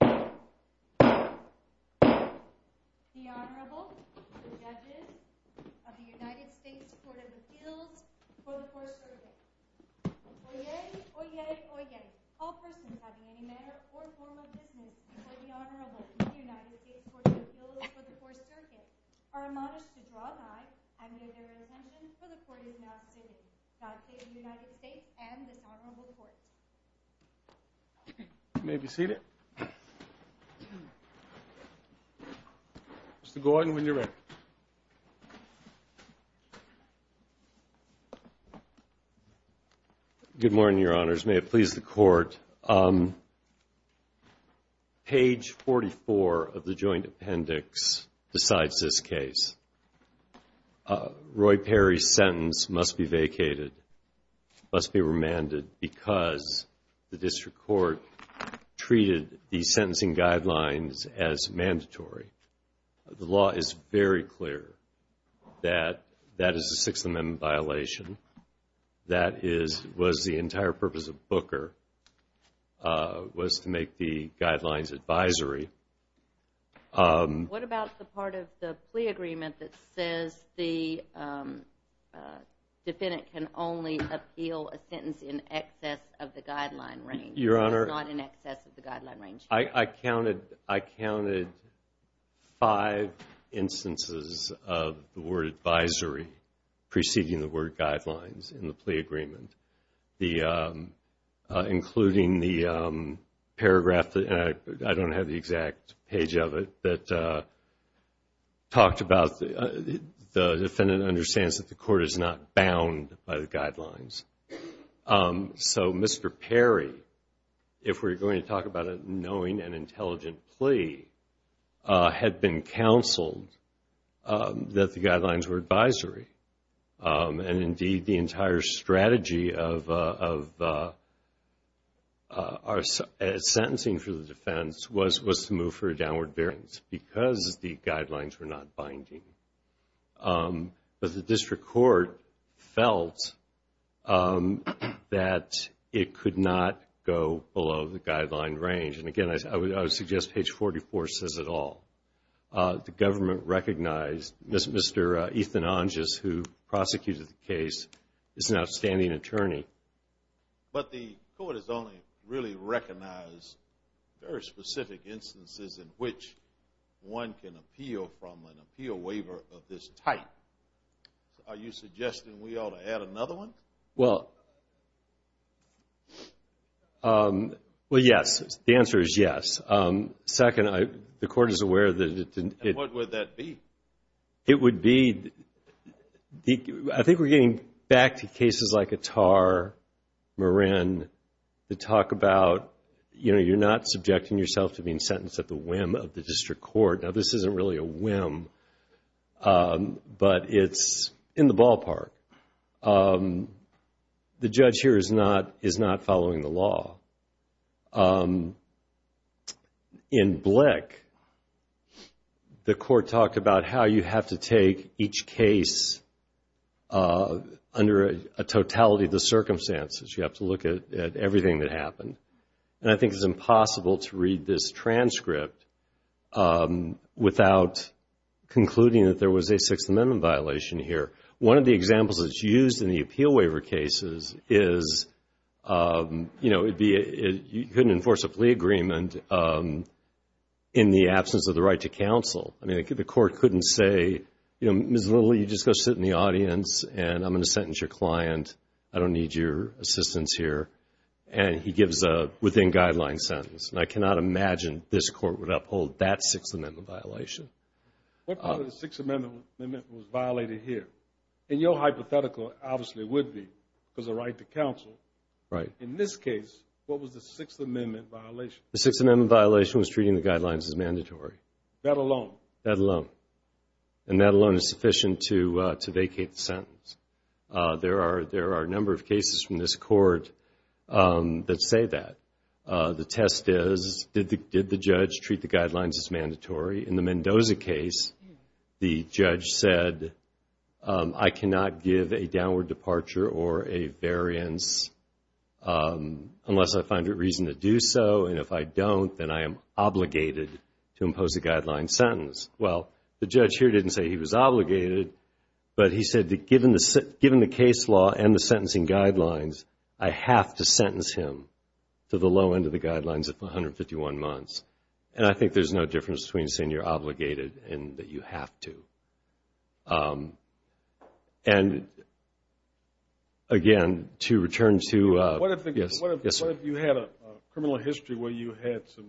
The Honorable, the Judges of the United States Court of Appeals for the Fourth Circuit. Oyez, oyez, oyez, all persons having any matter or form of business before the Honorable of the United States Court of Appeals for the Fourth Circuit are admonished to draw nigh, and may their intentions for the court be now stated. God save the United States and this Honorable Court. You may be seated. Mr. Gordon, when you're ready. Good morning, Your Honors. May it please the Court. Page 44 of the Joint Appendix decides this case. Roy Perry's sentence must be vacated, must be remanded, because the District Court treated the sentencing guidelines as mandatory. The law is very clear that that is a Sixth Amendment violation. That is, was the entire purpose of Booker was to make the guidelines advisory. What about the part of the plea agreement that says the defendant can only appeal a sentence in excess of the guideline range? It's not in excess of the guideline range. I counted five instances of the word advisory preceding the word guidelines in the plea agreement, including the paragraph that, I don't have the exact page of it, that talked about the defendant understands that the court is not bound by the guidelines. So Mr. Perry, if we're going to talk about a knowing and intelligent plea, had been counseled that the guidelines were advisory. And indeed, the entire strategy of our sentencing for the defense was to move for a downward variance, because the guidelines were not binding. But the District Court felt that it could not go below the guideline range. And again, I would suggest page 44 says it all. The government recognized Mr. Ethan Anges, who prosecuted the case, is an outstanding attorney. But the court has only really recognized very specific instances in which one can appeal from an appeal waiver of this type. Are you suggesting we ought to add another one? Well, yes. The answer is yes. Second, the court is aware that it didn't- And what would that be? It would be, I think we're getting back to cases like Attar, Morin, that talk about, you know, you're not subjecting yourself to being sentenced at the whim of the District Court. Now, this isn't really a whim, but it's in the ballpark. The judge here is not following the law. In Blick, the court talked about how you have to take each case under a totality of the circumstances. You have to look at everything that happened. And I think it's impossible to read this transcript without concluding that there was a Sixth Amendment violation here. One of the examples that's used in the appeal waiver cases is, you know, you couldn't enforce a plea agreement in the absence of the right to counsel. I mean, the court couldn't say, you know, Ms. Little, you just go sit in the audience and I'm going to sentence your client. I don't need your assistance here. And he gives a within-guideline sentence. And I cannot imagine this court would uphold that Sixth Amendment violation. What part of the Sixth Amendment was violated here? And your hypothetical obviously would be because of the right to counsel. In this case, what was the Sixth Amendment violation? The Sixth Amendment violation was treating the guidelines as mandatory. That alone? That alone. And that alone is sufficient to vacate the sentence. There are a number of cases from this court that say that. The test is, did the judge treat the guidelines as mandatory? In the Mendoza case, the judge said, I cannot give a downward departure or a variance unless I find a reason to do so. And if I don't, then I am obligated to impose a guideline sentence. Well, the judge here didn't say he was obligated, but he said that given the case law and the sentencing guidelines, I have to sentence him to the low end of the guidelines of 151 months. And I think there's no difference between saying you're obligated and that you have to. And, again, to return to – What if you had a criminal history where you had some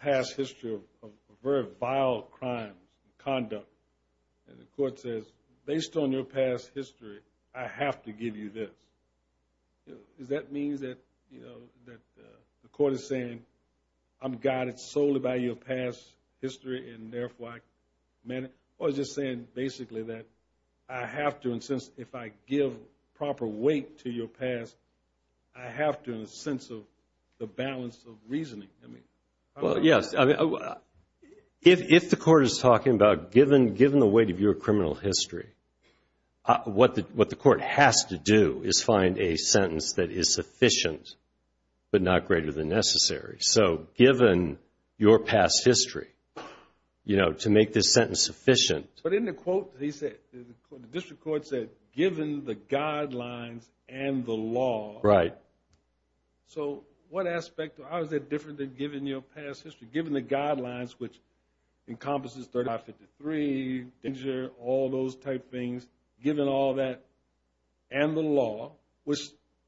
past history of very vile crimes, conduct, and the court says, based on your past history, I have to give you this. Does that mean that the court is saying, I'm guided solely by your past history and therefore I – or is it saying basically that I have to, in a sense, if I give proper weight to your past, I have to in a sense of the balance of reasoning? Well, yes. If the court is talking about given the weight of your criminal history, what the court has to do is find a sentence that is sufficient but not greater than necessary. So given your past history, to make this sentence sufficient – But in the quote, the district court said, given the guidelines and the law. Right. So what aspect – how is that different than given your past history? Given the guidelines, which encompasses 3553, danger, all those type things, given all that and the law, which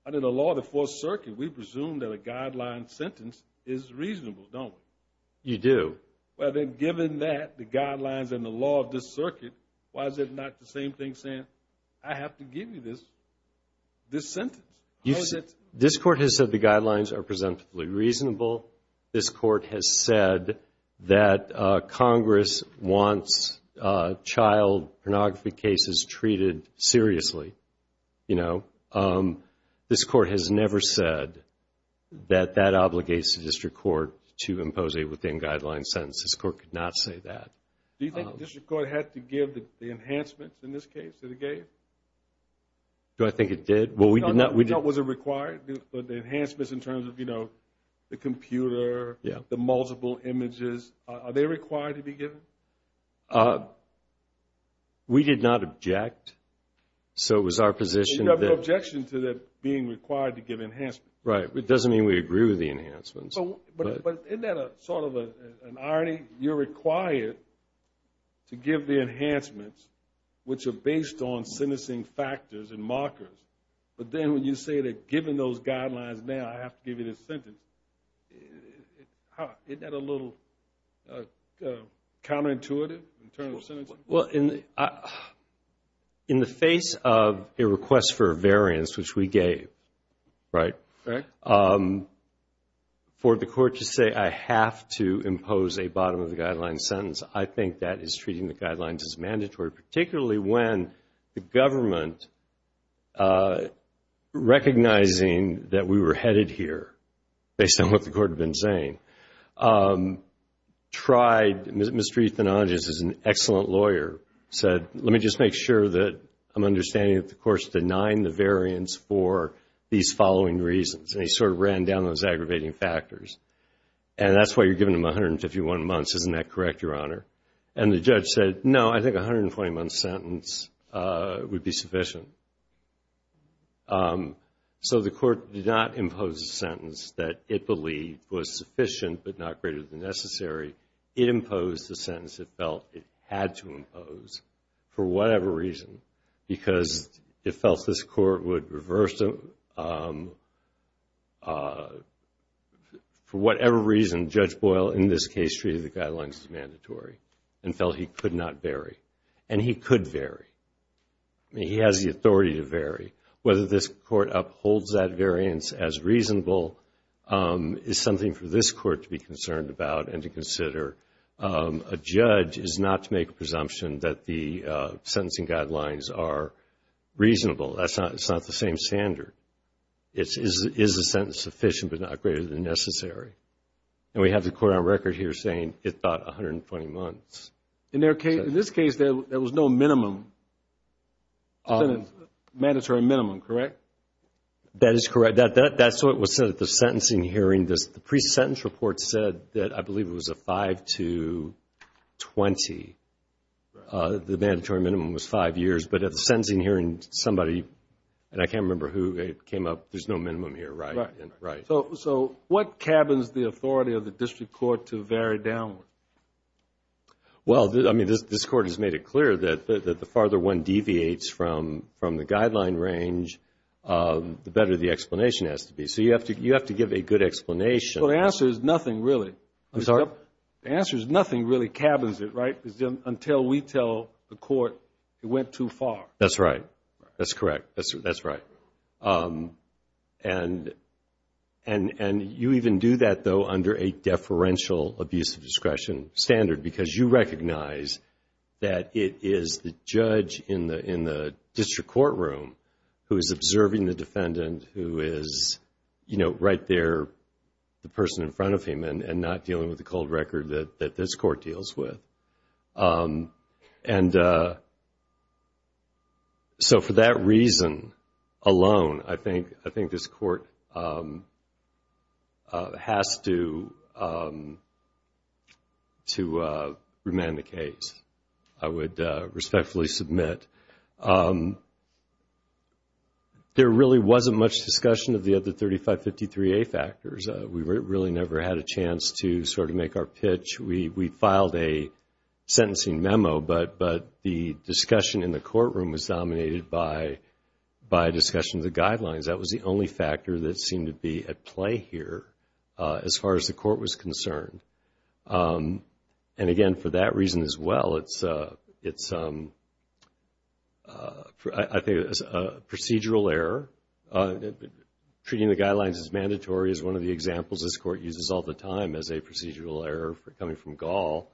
under the law of the Fourth Circuit, we presume that a guideline sentence is reasonable, don't we? You do. Well, then, given that, the guidelines and the law of this circuit, why is it not the same thing saying, I have to give you this sentence? This court has said the guidelines are presentably reasonable. This court has said that Congress wants child pornography cases treated seriously. This court has never said that that obligates the district court to impose a within-guidelines sentence. This court could not say that. Do you think the district court had to give the enhancements in this case that it gave? Do I think it did? Was it required, the enhancements in terms of, you know, the computer, the multiple images? Are they required to be given? We did not object. So it was our position that – You have no objection to that being required to give enhancements. Right. It doesn't mean we agree with the enhancements. But isn't that sort of an irony? You're required to give the enhancements, which are based on sentencing factors and markers. But then when you say that, given those guidelines now, I have to give you this sentence, isn't that a little counterintuitive in terms of sentencing? Well, in the face of a request for a variance, which we gave, right, for the court to say, I have to impose a bottom-of-the-guidelines sentence, I think that is treating the guidelines as mandatory, particularly when the government, recognizing that we were headed here, based on what the court had been saying, tried – Ms. Triethanages is an excellent lawyer, said, let me just make sure that I'm understanding that the court's denying the variance for these following reasons. And he sort of ran down those aggravating factors. And that's why you're giving them 151 months. Isn't that correct, Your Honor? And the judge said, no, I think a 120-month sentence would be sufficient. So the court did not impose a sentence that it believed was sufficient but not greater than necessary. It imposed the sentence it felt it had to impose for whatever reason, because it felt this court would reverse it for whatever reason. Judge Boyle, in this case, treated the guidelines as mandatory and felt he could not vary. And he could vary. He has the authority to vary. Whether this court upholds that variance as reasonable is something for this court to be concerned about and to consider. A judge is not to make a presumption that the sentencing guidelines are reasonable. That's not the same standard. It is a sentence sufficient but not greater than necessary. And we have the court on record here saying it thought 120 months. In this case, there was no minimum, mandatory minimum, correct? That is correct. That's what was said at the sentencing hearing. The pre-sentence report said that I believe it was a 5 to 20. The mandatory minimum was 5 years. But at the sentencing hearing, somebody, and I can't remember who, came up, there's no minimum here, right? So what cabins the authority of the district court to vary downward? This court has made it clear that the farther one deviates from the guideline range, the better the explanation has to be. So you have to give a good explanation. Well, the answer is nothing really. The answer is nothing really cabins it, right? Until we tell the court it went too far. That's right. That's correct. That's right. And you even do that, though, under a deferential abuse of discretion standard because you recognize that it is the judge in the district courtroom who is observing the defendant who is, you know, right there, the person in front of him and not dealing with the cold record that this court deals with. And so for that reason alone, I think this court has to remand the case. I would respectfully submit. There really wasn't much discussion of the other 3553A factors. We really never had a chance to sort of make our pitch. We filed a sentencing memo, but the discussion in the courtroom was dominated by discussion of the guidelines. That was the only factor that seemed to be at play here as far as the court was concerned. And, again, for that reason as well, it's a procedural error. Treating the guidelines as mandatory is one of the examples this court uses all the time as a procedural error coming from Gall.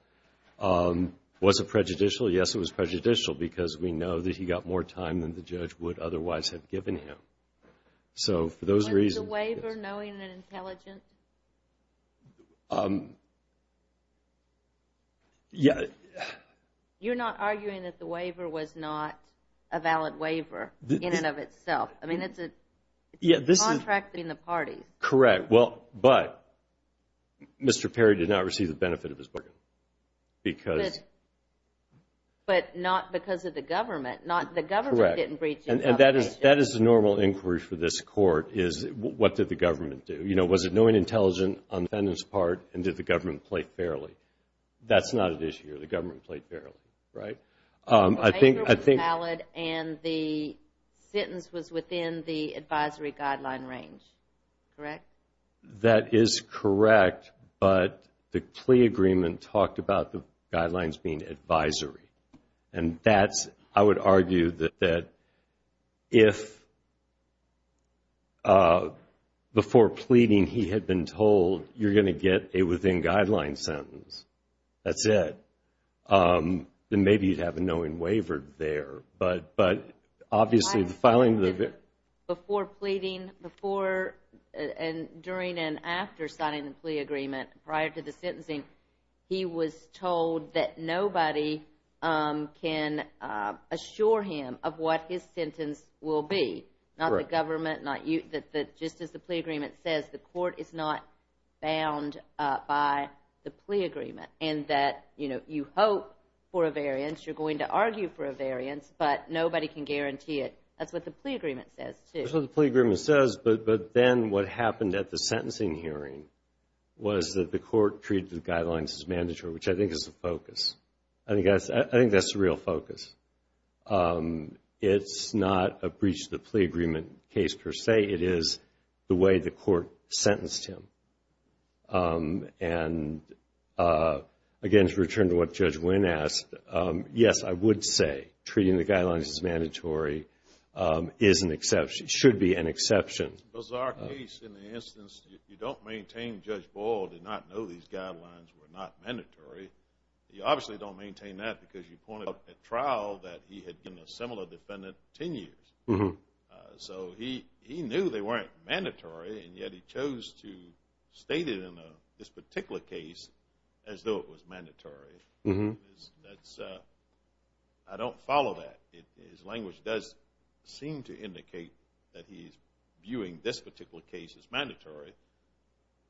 Was it prejudicial? Yes, it was prejudicial because we know that he got more time than the judge would otherwise have given him. Was the waiver knowing and intelligent? You're not arguing that the waiver was not a valid waiver in and of itself? I mean, it's contracting the parties. Correct, but Mr. Perry did not receive the benefit of his bargain. But not because of the government. The government didn't breach his obligation. And that is the normal inquiry for this court is what did the government do? You know, was it knowing and intelligent on the defendant's part, and did the government play fairly? That's not at issue here. The government played fairly, right? The waiver was valid, and the sentence was within the advisory guideline range, correct? That is correct, but the plea agreement talked about the guidelines being advisory. And that's, I would argue that if before pleading he had been told, you're going to get a within guideline sentence, that's it, then maybe you'd have a knowing waiver there. But obviously the filing of the ver- Before pleading, before and during and after signing the plea agreement, prior to the sentencing, he was told that nobody can assure him of what his sentence will be. Not the government, not you. Just as the plea agreement says, the court is not bound by the plea agreement. And that, you know, you hope for a variance, you're going to argue for a variance, but nobody can guarantee it. That's what the plea agreement says, too. That's what the plea agreement says, but then what happened at the sentencing hearing was that the court treated the guidelines as mandatory, which I think is the focus. I think that's the real focus. It's not a breach of the plea agreement case per se. It is the way the court sentenced him. And again, to return to what Judge Wynn asked, yes, I would say treating the guidelines as mandatory is an exception, should be an exception. It's a bizarre case in the instance. You don't maintain Judge Boyle did not know these guidelines were not mandatory. You obviously don't maintain that because you pointed out at trial that he had been a similar defendant ten years. So he knew they weren't mandatory, and yet he chose to state it in this particular case as though it was mandatory. I don't follow that. His language does seem to indicate that he's viewing this particular case as mandatory,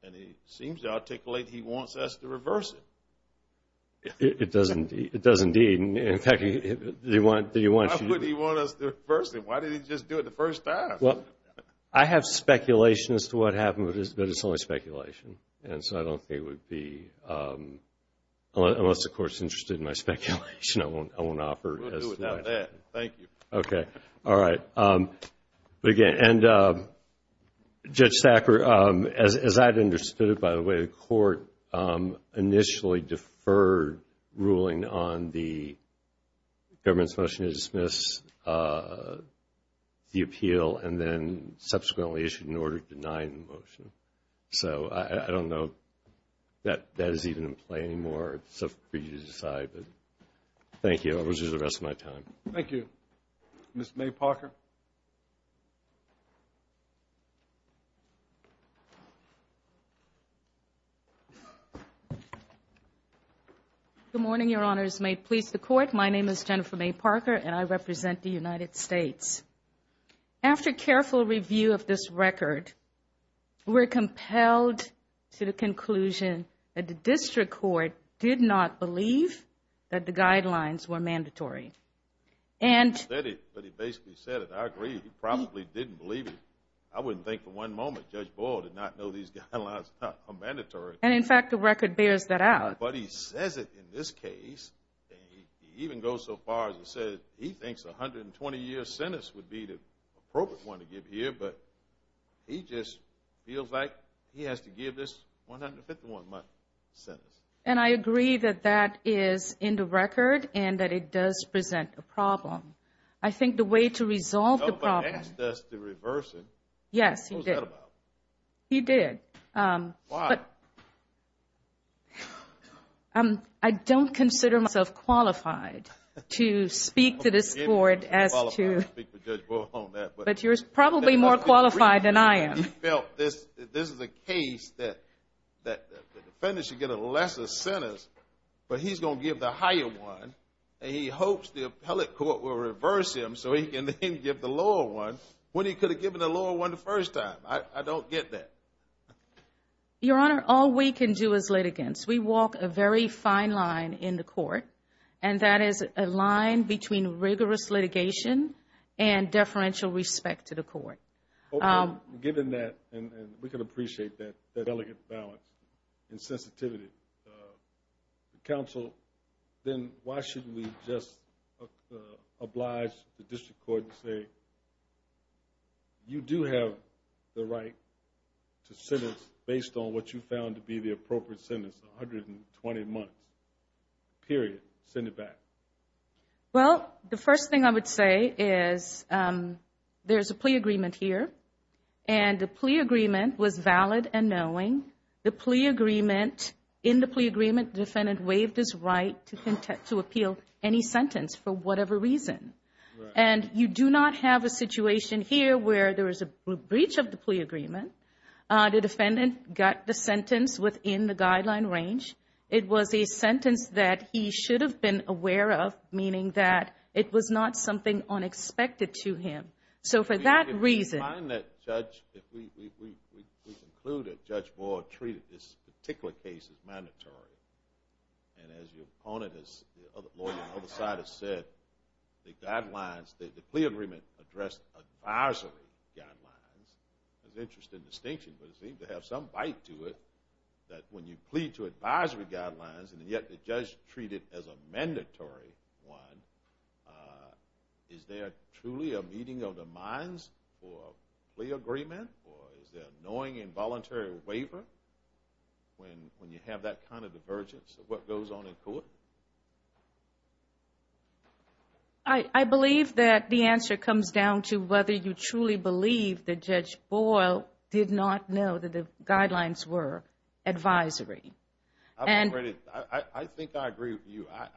and he seems to articulate he wants us to reverse it. It does indeed. In fact, do you want to? Why would he want us to reverse it? Why did he just do it the first time? I have speculation as to what happened, but it's only speculation, and so I don't think it would be unless the court is interested in my speculation. I won't offer it. We'll do it without that. Thank you. Okay. All right. But again, and Judge Stacker, as I'd understood it, by the way, the court initially deferred ruling on the government's motion to dismiss the appeal and then subsequently issued an order denying the motion. So I don't know that that is even in play anymore. It's up for you to decide. But thank you. I'll reserve the rest of my time. Thank you. Ms. May Parker. Good morning, Your Honors. May it please the Court. My name is Jennifer May Parker, and I represent the United States. After careful review of this record, we're compelled to the conclusion that the district court did not believe that the guidelines were mandatory. He said it, but he basically said it. I agree. He probably didn't believe it. I wouldn't think for one moment Judge Boyle did not know these guidelines are mandatory. And, in fact, the record bears that out. But he says it in this case. He even goes so far as to say he thinks a 120-year sentence would be the appropriate one to give here, but he just feels like he has to give this 151-month sentence. And I agree that that is in the record and that it does present a problem. I think the way to resolve the problem. Nobody asked us to reverse it. Yes, he did. What was that about? He did. Why? I don't consider myself qualified to speak to this court as to. I don't think you're qualified to speak to Judge Boyle on that. But you're probably more qualified than I am. He felt this is a case that the defendant should get a lesser sentence, but he's going to give the higher one, and he hopes the appellate court will reverse him so he can then give the lower one when he could have given the lower one the first time. I don't get that. Your Honor, all we can do as litigants, we walk a very fine line in the court, and that is a line between rigorous litigation and deferential respect to the court. Given that, and we can appreciate that delicate balance and sensitivity, counsel, then why shouldn't we just oblige the district court to say, you do have the right to sentence based on what you found to be the appropriate sentence, 120 months, period. Send it back. Well, the first thing I would say is there's a plea agreement here, and the plea agreement was valid and knowing. The plea agreement, in the plea agreement, the defendant waived his right to appeal any sentence for whatever reason. Right. And you do not have a situation here where there is a breach of the plea agreement. The defendant got the sentence within the guideline range. It was a sentence that he should have been aware of, meaning that it was not something unexpected to him. So for that reason... If we find that judge, if we conclude that Judge Moore treated this particular case as mandatory, and as your opponent, as the lawyer on the other side has said, the guidelines, the plea agreement addressed advisory guidelines. It's an interesting distinction, but it seemed to have some bite to it that when you plead to advisory guidelines, and yet the judge treated it as a mandatory one, is there truly a meeting of the minds for a plea agreement, or is there a knowing involuntary waiver when you have that kind of convergence of what goes on in court? I believe that the answer comes down to whether you truly believe that Judge Boyle did not know that the guidelines were advisory. I think I agree with you. I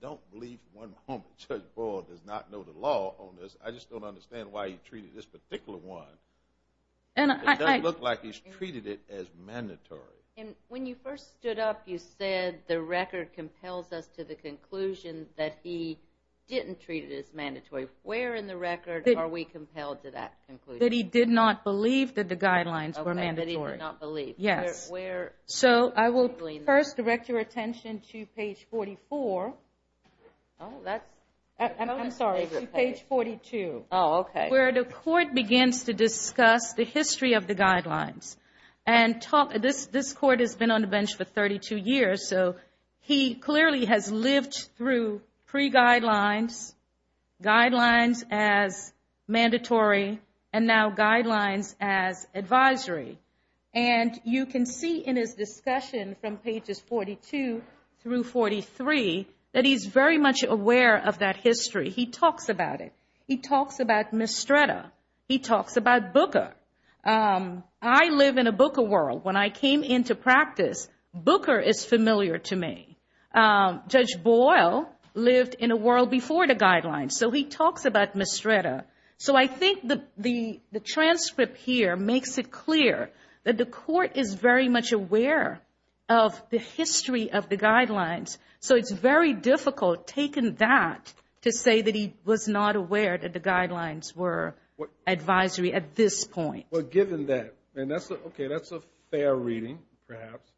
don't believe one moment Judge Boyle does not know the law on this. I just don't understand why he treated this particular one. It doesn't look like he's treated it as mandatory. When you first stood up, you said the record compels us to the conclusion that he didn't treat it as mandatory. Where in the record are we compelled to that conclusion? That he did not believe that the guidelines were mandatory. That he did not believe. Yes. Where? I will first direct your attention to page 44. I'm sorry. To page 42. Oh, okay. Where the court begins to discuss the history of the guidelines. This court has been on the bench for 32 years, so he clearly has lived through pre-guidelines, guidelines as mandatory, and now guidelines as advisory. And you can see in his discussion from pages 42 through 43 that he's very much aware of that history. He talks about it. He talks about Mistretta. He talks about Booker. I live in a Booker world. When I came into practice, Booker is familiar to me. Judge Boyle lived in a world before the guidelines, so he talks about Mistretta. So I think the transcript here makes it clear that the court is very much aware of the history of the guidelines, so it's very difficult taking that to say that he was not aware that the guidelines were in place at that point. Well, given that, and that's a fair reading perhaps,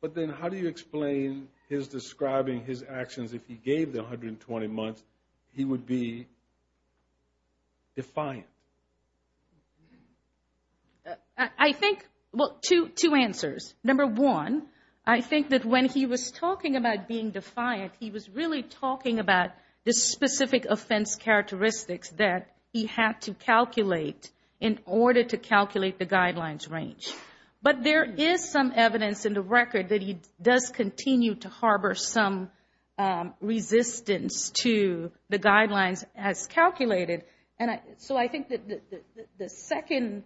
but then how do you explain his describing his actions if he gave the 120 months he would be defiant? I think, well, two answers. Number one, I think that when he was talking about being defiant, he was really talking about the specific offense characteristics that he had to calculate in order to calculate the guidelines range. But there is some evidence in the record that he does continue to harbor some resistance to the guidelines as calculated. So I think the second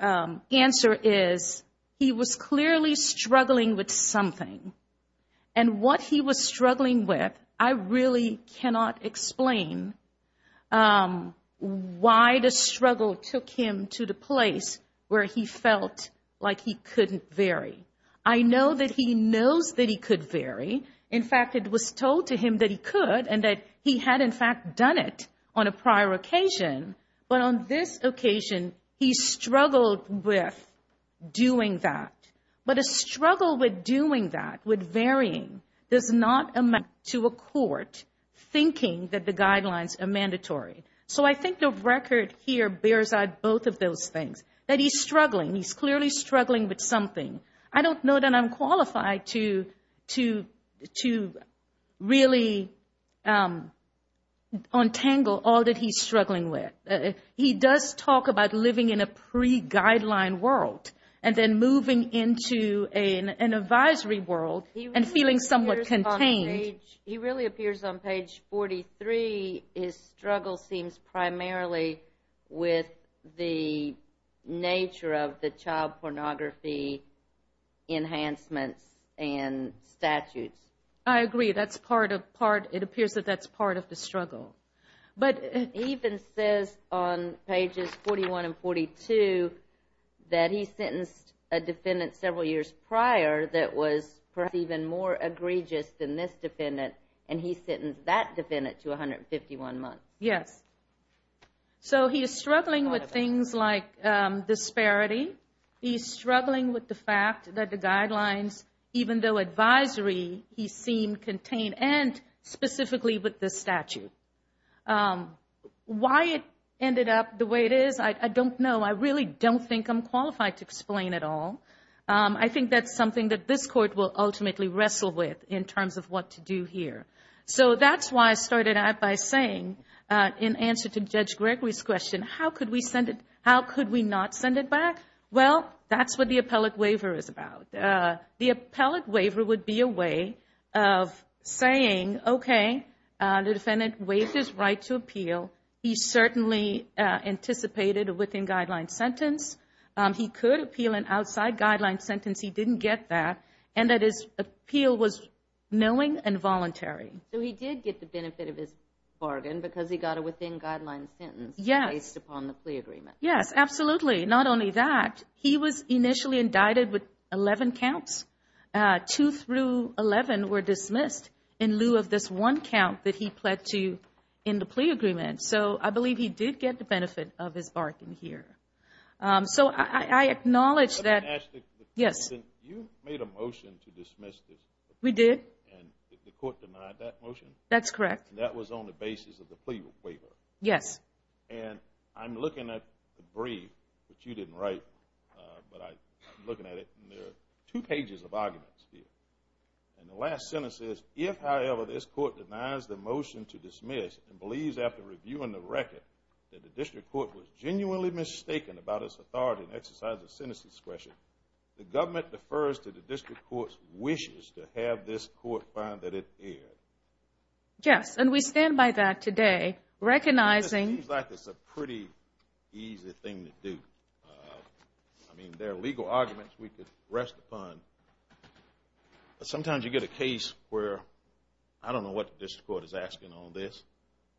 answer is he was clearly struggling with something, and what he was struggling with, I really cannot explain why the struggle took him to the place where he felt like he couldn't vary. I know that he knows that he could vary. In fact, it was told to him that he could and that he had, in fact, done it on a prior occasion. But on this occasion, he struggled with doing that. But a struggle with doing that, with varying, does not amount to a court thinking that the guidelines are mandatory. So I think the record here bears out both of those things, that he's struggling. He's clearly struggling with something. I don't know that I'm qualified to really untangle all that he's struggling with. He does talk about living in a pre-guideline world and then moving into an advisory world and feeling somewhat contained. He really appears on page 43. His struggle seems primarily with the nature of the child pornography enhancements and statutes. I agree. It appears that that's part of the struggle. It even says on pages 41 and 42 that he sentenced a defendant several years prior that was perhaps even more egregious than this defendant, and he sentenced that defendant to 151 months. Yes. So he is struggling with things like disparity. He's struggling with the fact that the guidelines, even though advisory, he seemed contained, and specifically with the statute. Why it ended up the way it is, I don't know. I really don't think I'm qualified to explain it all. I think that's something that this court will ultimately wrestle with in terms of what to do here. So that's why I started out by saying, in answer to Judge Gregory's question, how could we not send it back? Well, that's what the appellate waiver is about. The appellate waiver would be a way of saying, okay, the defendant waived his right to appeal. He certainly anticipated a within-guideline sentence. He could appeal an outside-guideline sentence. He didn't get that, and that his appeal was knowing and voluntary. So he did get the benefit of his bargain because he got a within-guideline sentence based upon the plea agreement. Yes, absolutely. Not only that. He was initially indicted with 11 counts. Two through 11 were dismissed in lieu of this one count that he pled to in the plea agreement. So I believe he did get the benefit of his bargain here. So I acknowledge that. Yes. You made a motion to dismiss this. We did. And did the court deny that motion? That's correct. That was on the basis of the plea waiver. Yes. And I'm looking at the brief, which you didn't write, but I'm looking at it, and there are two pages of arguments here. And the last sentence says, if, however, this court denies the motion to dismiss and believes, after reviewing the record, that the district court was genuinely mistaken about its authority in exercise of sentence discretion, the government defers to the district court's wishes to have this court find that it erred. Yes, and we stand by that today, recognizing that this is a pretty easy thing to do. I mean, there are legal arguments we could rest upon, but sometimes you get a case where I don't know what the district court is asking on this.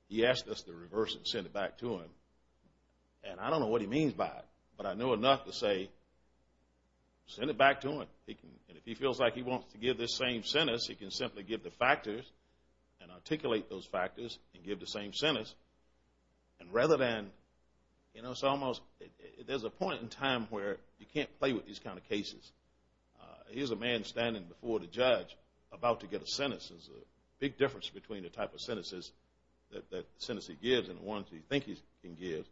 He asked us to reverse it and send it back to him, and I don't know what he means by it, but I know enough to say send it back to him. And if he feels like he wants to give this same sentence, he can simply give the factors and articulate those factors and give the same sentence. And rather than, you know, it's almost there's a point in time where you can't play with these kind of cases. Here's a man standing before the judge about to get a sentence. There's a big difference between the type of sentences that the sentence he gives and the ones he thinks he can give.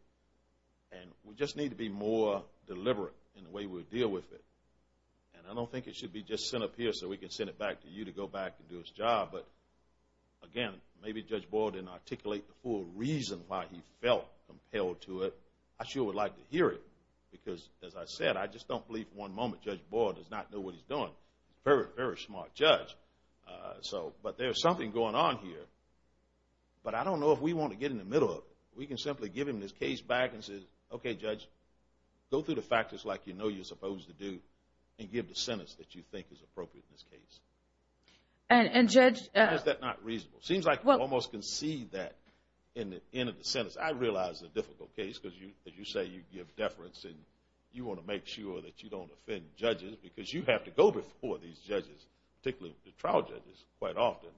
And we just need to be more deliberate in the way we deal with it. And I don't think it should be just sent up here so we can send it back to you to go back and do its job. But, again, maybe Judge Boyle didn't articulate the full reason why he felt compelled to it. I sure would like to hear it because, as I said, I just don't believe for one moment Judge Boyle does not know what he's doing. He's a very, very smart judge. But there's something going on here, but I don't know if we want to get in the middle of it. We can simply give him this case back and say, okay, Judge, go through the factors like you know you're supposed to do and give the sentence that you think is appropriate in this case. And, Judge? Why is that not reasonable? It seems like you almost concede that in the end of the sentence. I realize it's a difficult case because, as you say, you give deference and you want to make sure that you don't offend judges because you have to go before these judges, particularly the trial judges, quite often.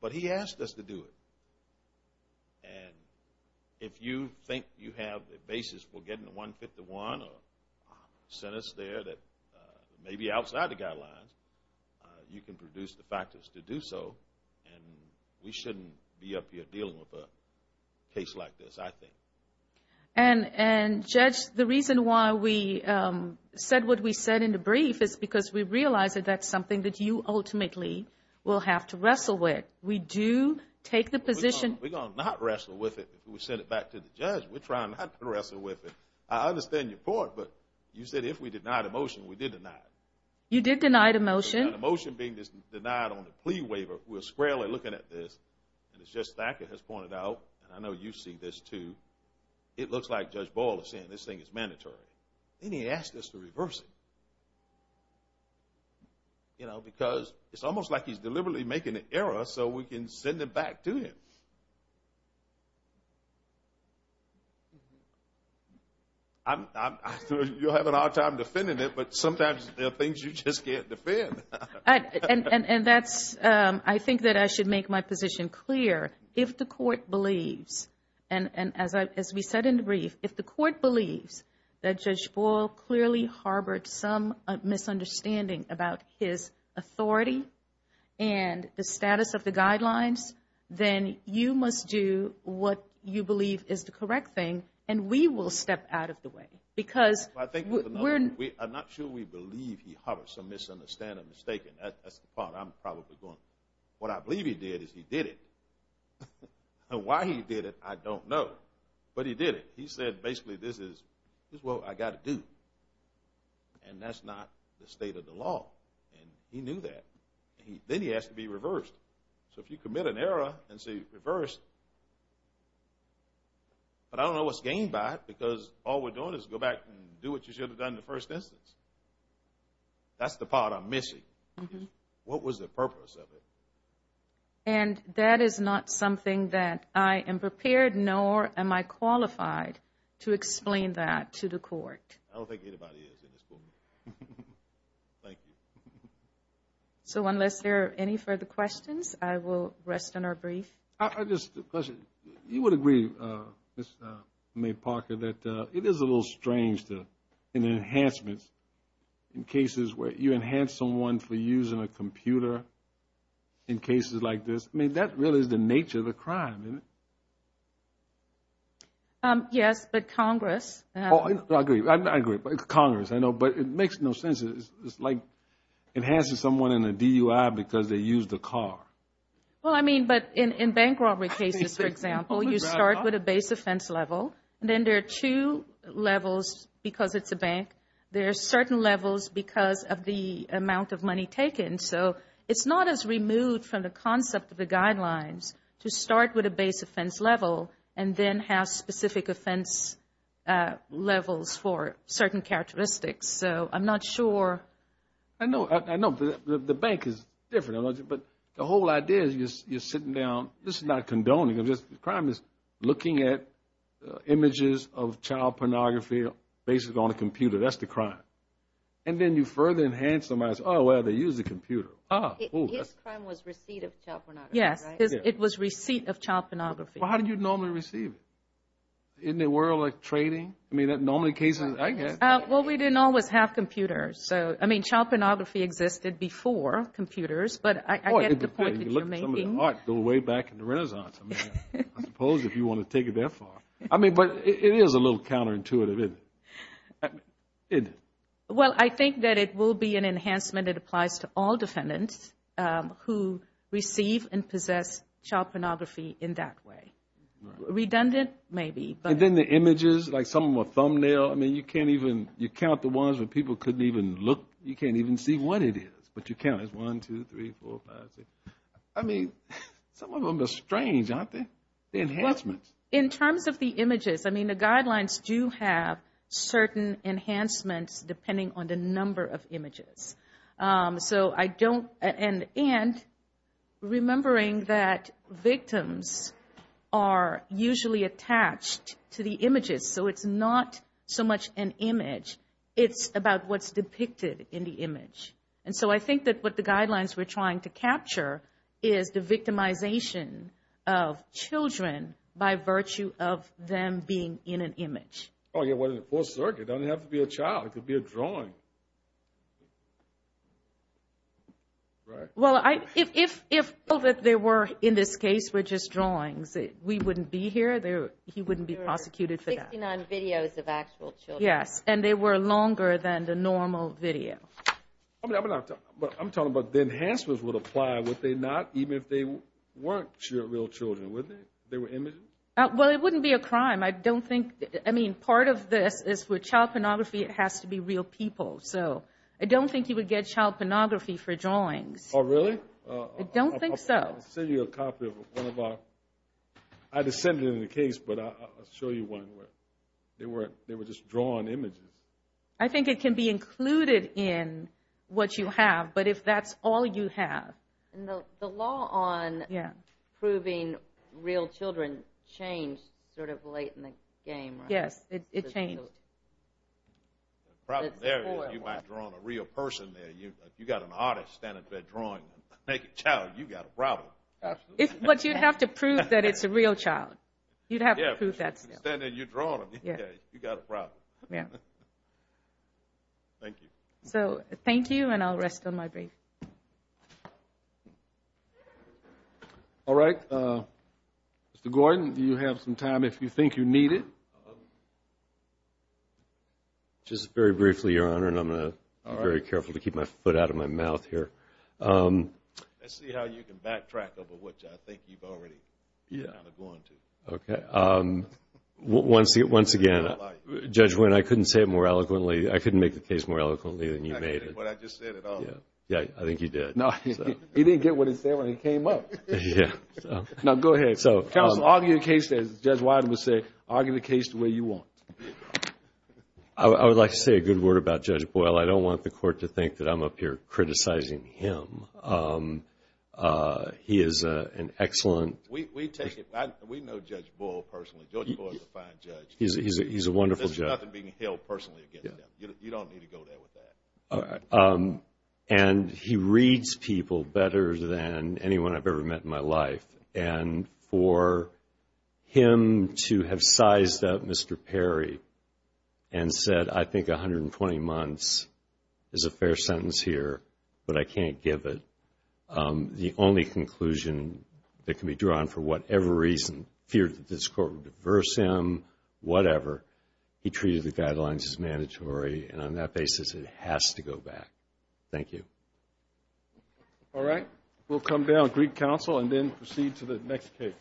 But he asked us to do it. And if you think you have the basis for getting 151 or a sentence there that may be outside the guidelines, you can produce the factors to do so. And we shouldn't be up here dealing with a case like this, I think. And, Judge, the reason why we said what we said in the brief is because we realize that that's something that you ultimately will have to wrestle with. We do take the position. We're going to not wrestle with it if we send it back to the judge. We're trying not to wrestle with it. I understand your point, but you said if we denied a motion, we did deny it. You did deny the motion. The motion being denied on the plea waiver, we're squarely looking at this, and as Judge Thacker has pointed out, and I know you see this too, it looks like Judge Boyle is saying this thing is mandatory. And he asked us to reverse it. You know, because it's almost like he's deliberately making an error so we can send it back to him. You're having a hard time defending it, but sometimes there are things you just can't defend. And that's, I think that I should make my position clear. If the court believes, and as we said in the brief, if the court believes that Judge Boyle clearly harbored some misunderstanding about his authority and the status of the guidelines, then you must do what you believe is the correct thing, and we will step out of the way. Because we're not sure we believe he harbored some misunderstanding. That's the part I'm probably going, what I believe he did is he did it. Why he did it, I don't know, but he did it. He said basically this is what I got to do, and that's not the state of the law. And he knew that. Then he asked to be reversed. So if you commit an error and say reverse, but I don't know what's gained by it, because all we're doing is go back and do what you should have done in the first instance. That's the part I'm missing. What was the purpose of it? And that is not something that I am prepared nor am I qualified to explain that to the court. I don't think anybody is in this room. Thank you. So unless there are any further questions, I will rest on our brief. I just have a question. You would agree, Ms. May Parker, that it is a little strange in enhancements, in cases where you enhance someone for using a computer in cases like this. I mean, that really is the nature of the crime, isn't it? Yes, but Congress. I agree. Congress, I know, but it makes no sense. It's like enhancing someone in a DUI because they used a car. Well, I mean, but in bank robbery cases, for example, you start with a base offense level. Then there are two levels because it's a bank. There are certain levels because of the amount of money taken. So it's not as removed from the concept of the guidelines to start with a base offense level and then have specific offense levels for certain characteristics. So I'm not sure. I know. The bank is different. But the whole idea is you're sitting down. This is not condoning. The crime is looking at images of child pornography based on a computer. That's the crime. And then you further enhance them as, oh, well, they used a computer. His crime was receipt of child pornography, right? Yes, it was receipt of child pornography. Well, how do you normally receive it? Isn't it more like trading? I mean, in normal cases, I guess. Well, we didn't always have computers. I mean, child pornography existed before computers, but I get the point that you're making. Some of the art go way back in the Renaissance. I mean, I suppose if you want to take it that far. I mean, but it is a little counterintuitive, isn't it? Well, I think that it will be an enhancement. It applies to all defendants who receive and possess child pornography in that way. Redundant, maybe. And then the images, like some of them are thumbnail. I mean, you can't even count the ones where people couldn't even look. You can't even see what it is. But you count it as one, two, three, four, five, six. I mean, some of them are strange, aren't they? The enhancements. In terms of the images, I mean, the guidelines do have certain enhancements depending on the number of images. So I don't, and remembering that victims are usually attached to the images, so it's not so much an image. It's about what's depicted in the image. And so I think that what the guidelines were trying to capture is the victimization of children by virtue of them being in an image. Oh, yeah, well, in the full circuit. It doesn't have to be a child. It could be a drawing. Well, if all that there were in this case were just drawings, we wouldn't be here. He wouldn't be prosecuted for that. There were 69 videos of actual children. Yes, and they were longer than the normal video. I'm talking about the enhancements would apply, would they not, even if they weren't real children, would they? They were images? Well, it wouldn't be a crime. I don't think, I mean, part of this is with child pornography, it has to be real people. So I don't think you would get child pornography for drawings. Oh, really? I don't think so. I'll send you a copy of one of our, I just sent it in the case, but I'll show you one where they were just drawn images. I think it can be included in what you have, but if that's all you have. And the law on proving real children changed sort of late in the game, right? Yes, it changed. The problem there is you might have drawn a real person there. If you've got an artist standing up there drawing a naked child, you've got a problem. Absolutely. But you'd have to prove that it's a real child. You'd have to prove that still. If you're standing there and you're drawing them, you've got a problem. Yeah. Thank you. So thank you, and I'll rest on my break. All right. Mr. Gordon, do you have some time if you think you need it? Just very briefly, Your Honor, and I'm going to be very careful to keep my foot out of my mouth here. Let's see how you can backtrack over what I think you've already kind of gone to. Okay. Once again, Judge Wynne, I couldn't say it more eloquently. I couldn't make the case more eloquently than you made it. I didn't get what I just said at all. Yeah, I think you did. No, he didn't get what he said when he came up. Yeah. Now, go ahead. Counsel, argue the case as Judge Wynne would say. Argue the case the way you want. I would like to say a good word about Judge Boyle. I don't want the Court to think that I'm up here criticizing him. He is an excellent. We know Judge Boyle personally. Judge Boyle is a fine judge. He's a wonderful judge. There's nothing being held personally against him. You don't need to go there with that. All right. And he reads people better than anyone I've ever met in my life. And for him to have sized up Mr. Perry and said, I think 120 months is a fair sentence here, but I can't give it, the only conclusion that can be drawn for whatever reason, fear that this Court will diverse him, whatever, he treated the guidelines as mandatory. And on that basis, it has to go back. Thank you. All right. We'll come down and greet counsel and then proceed to the next case.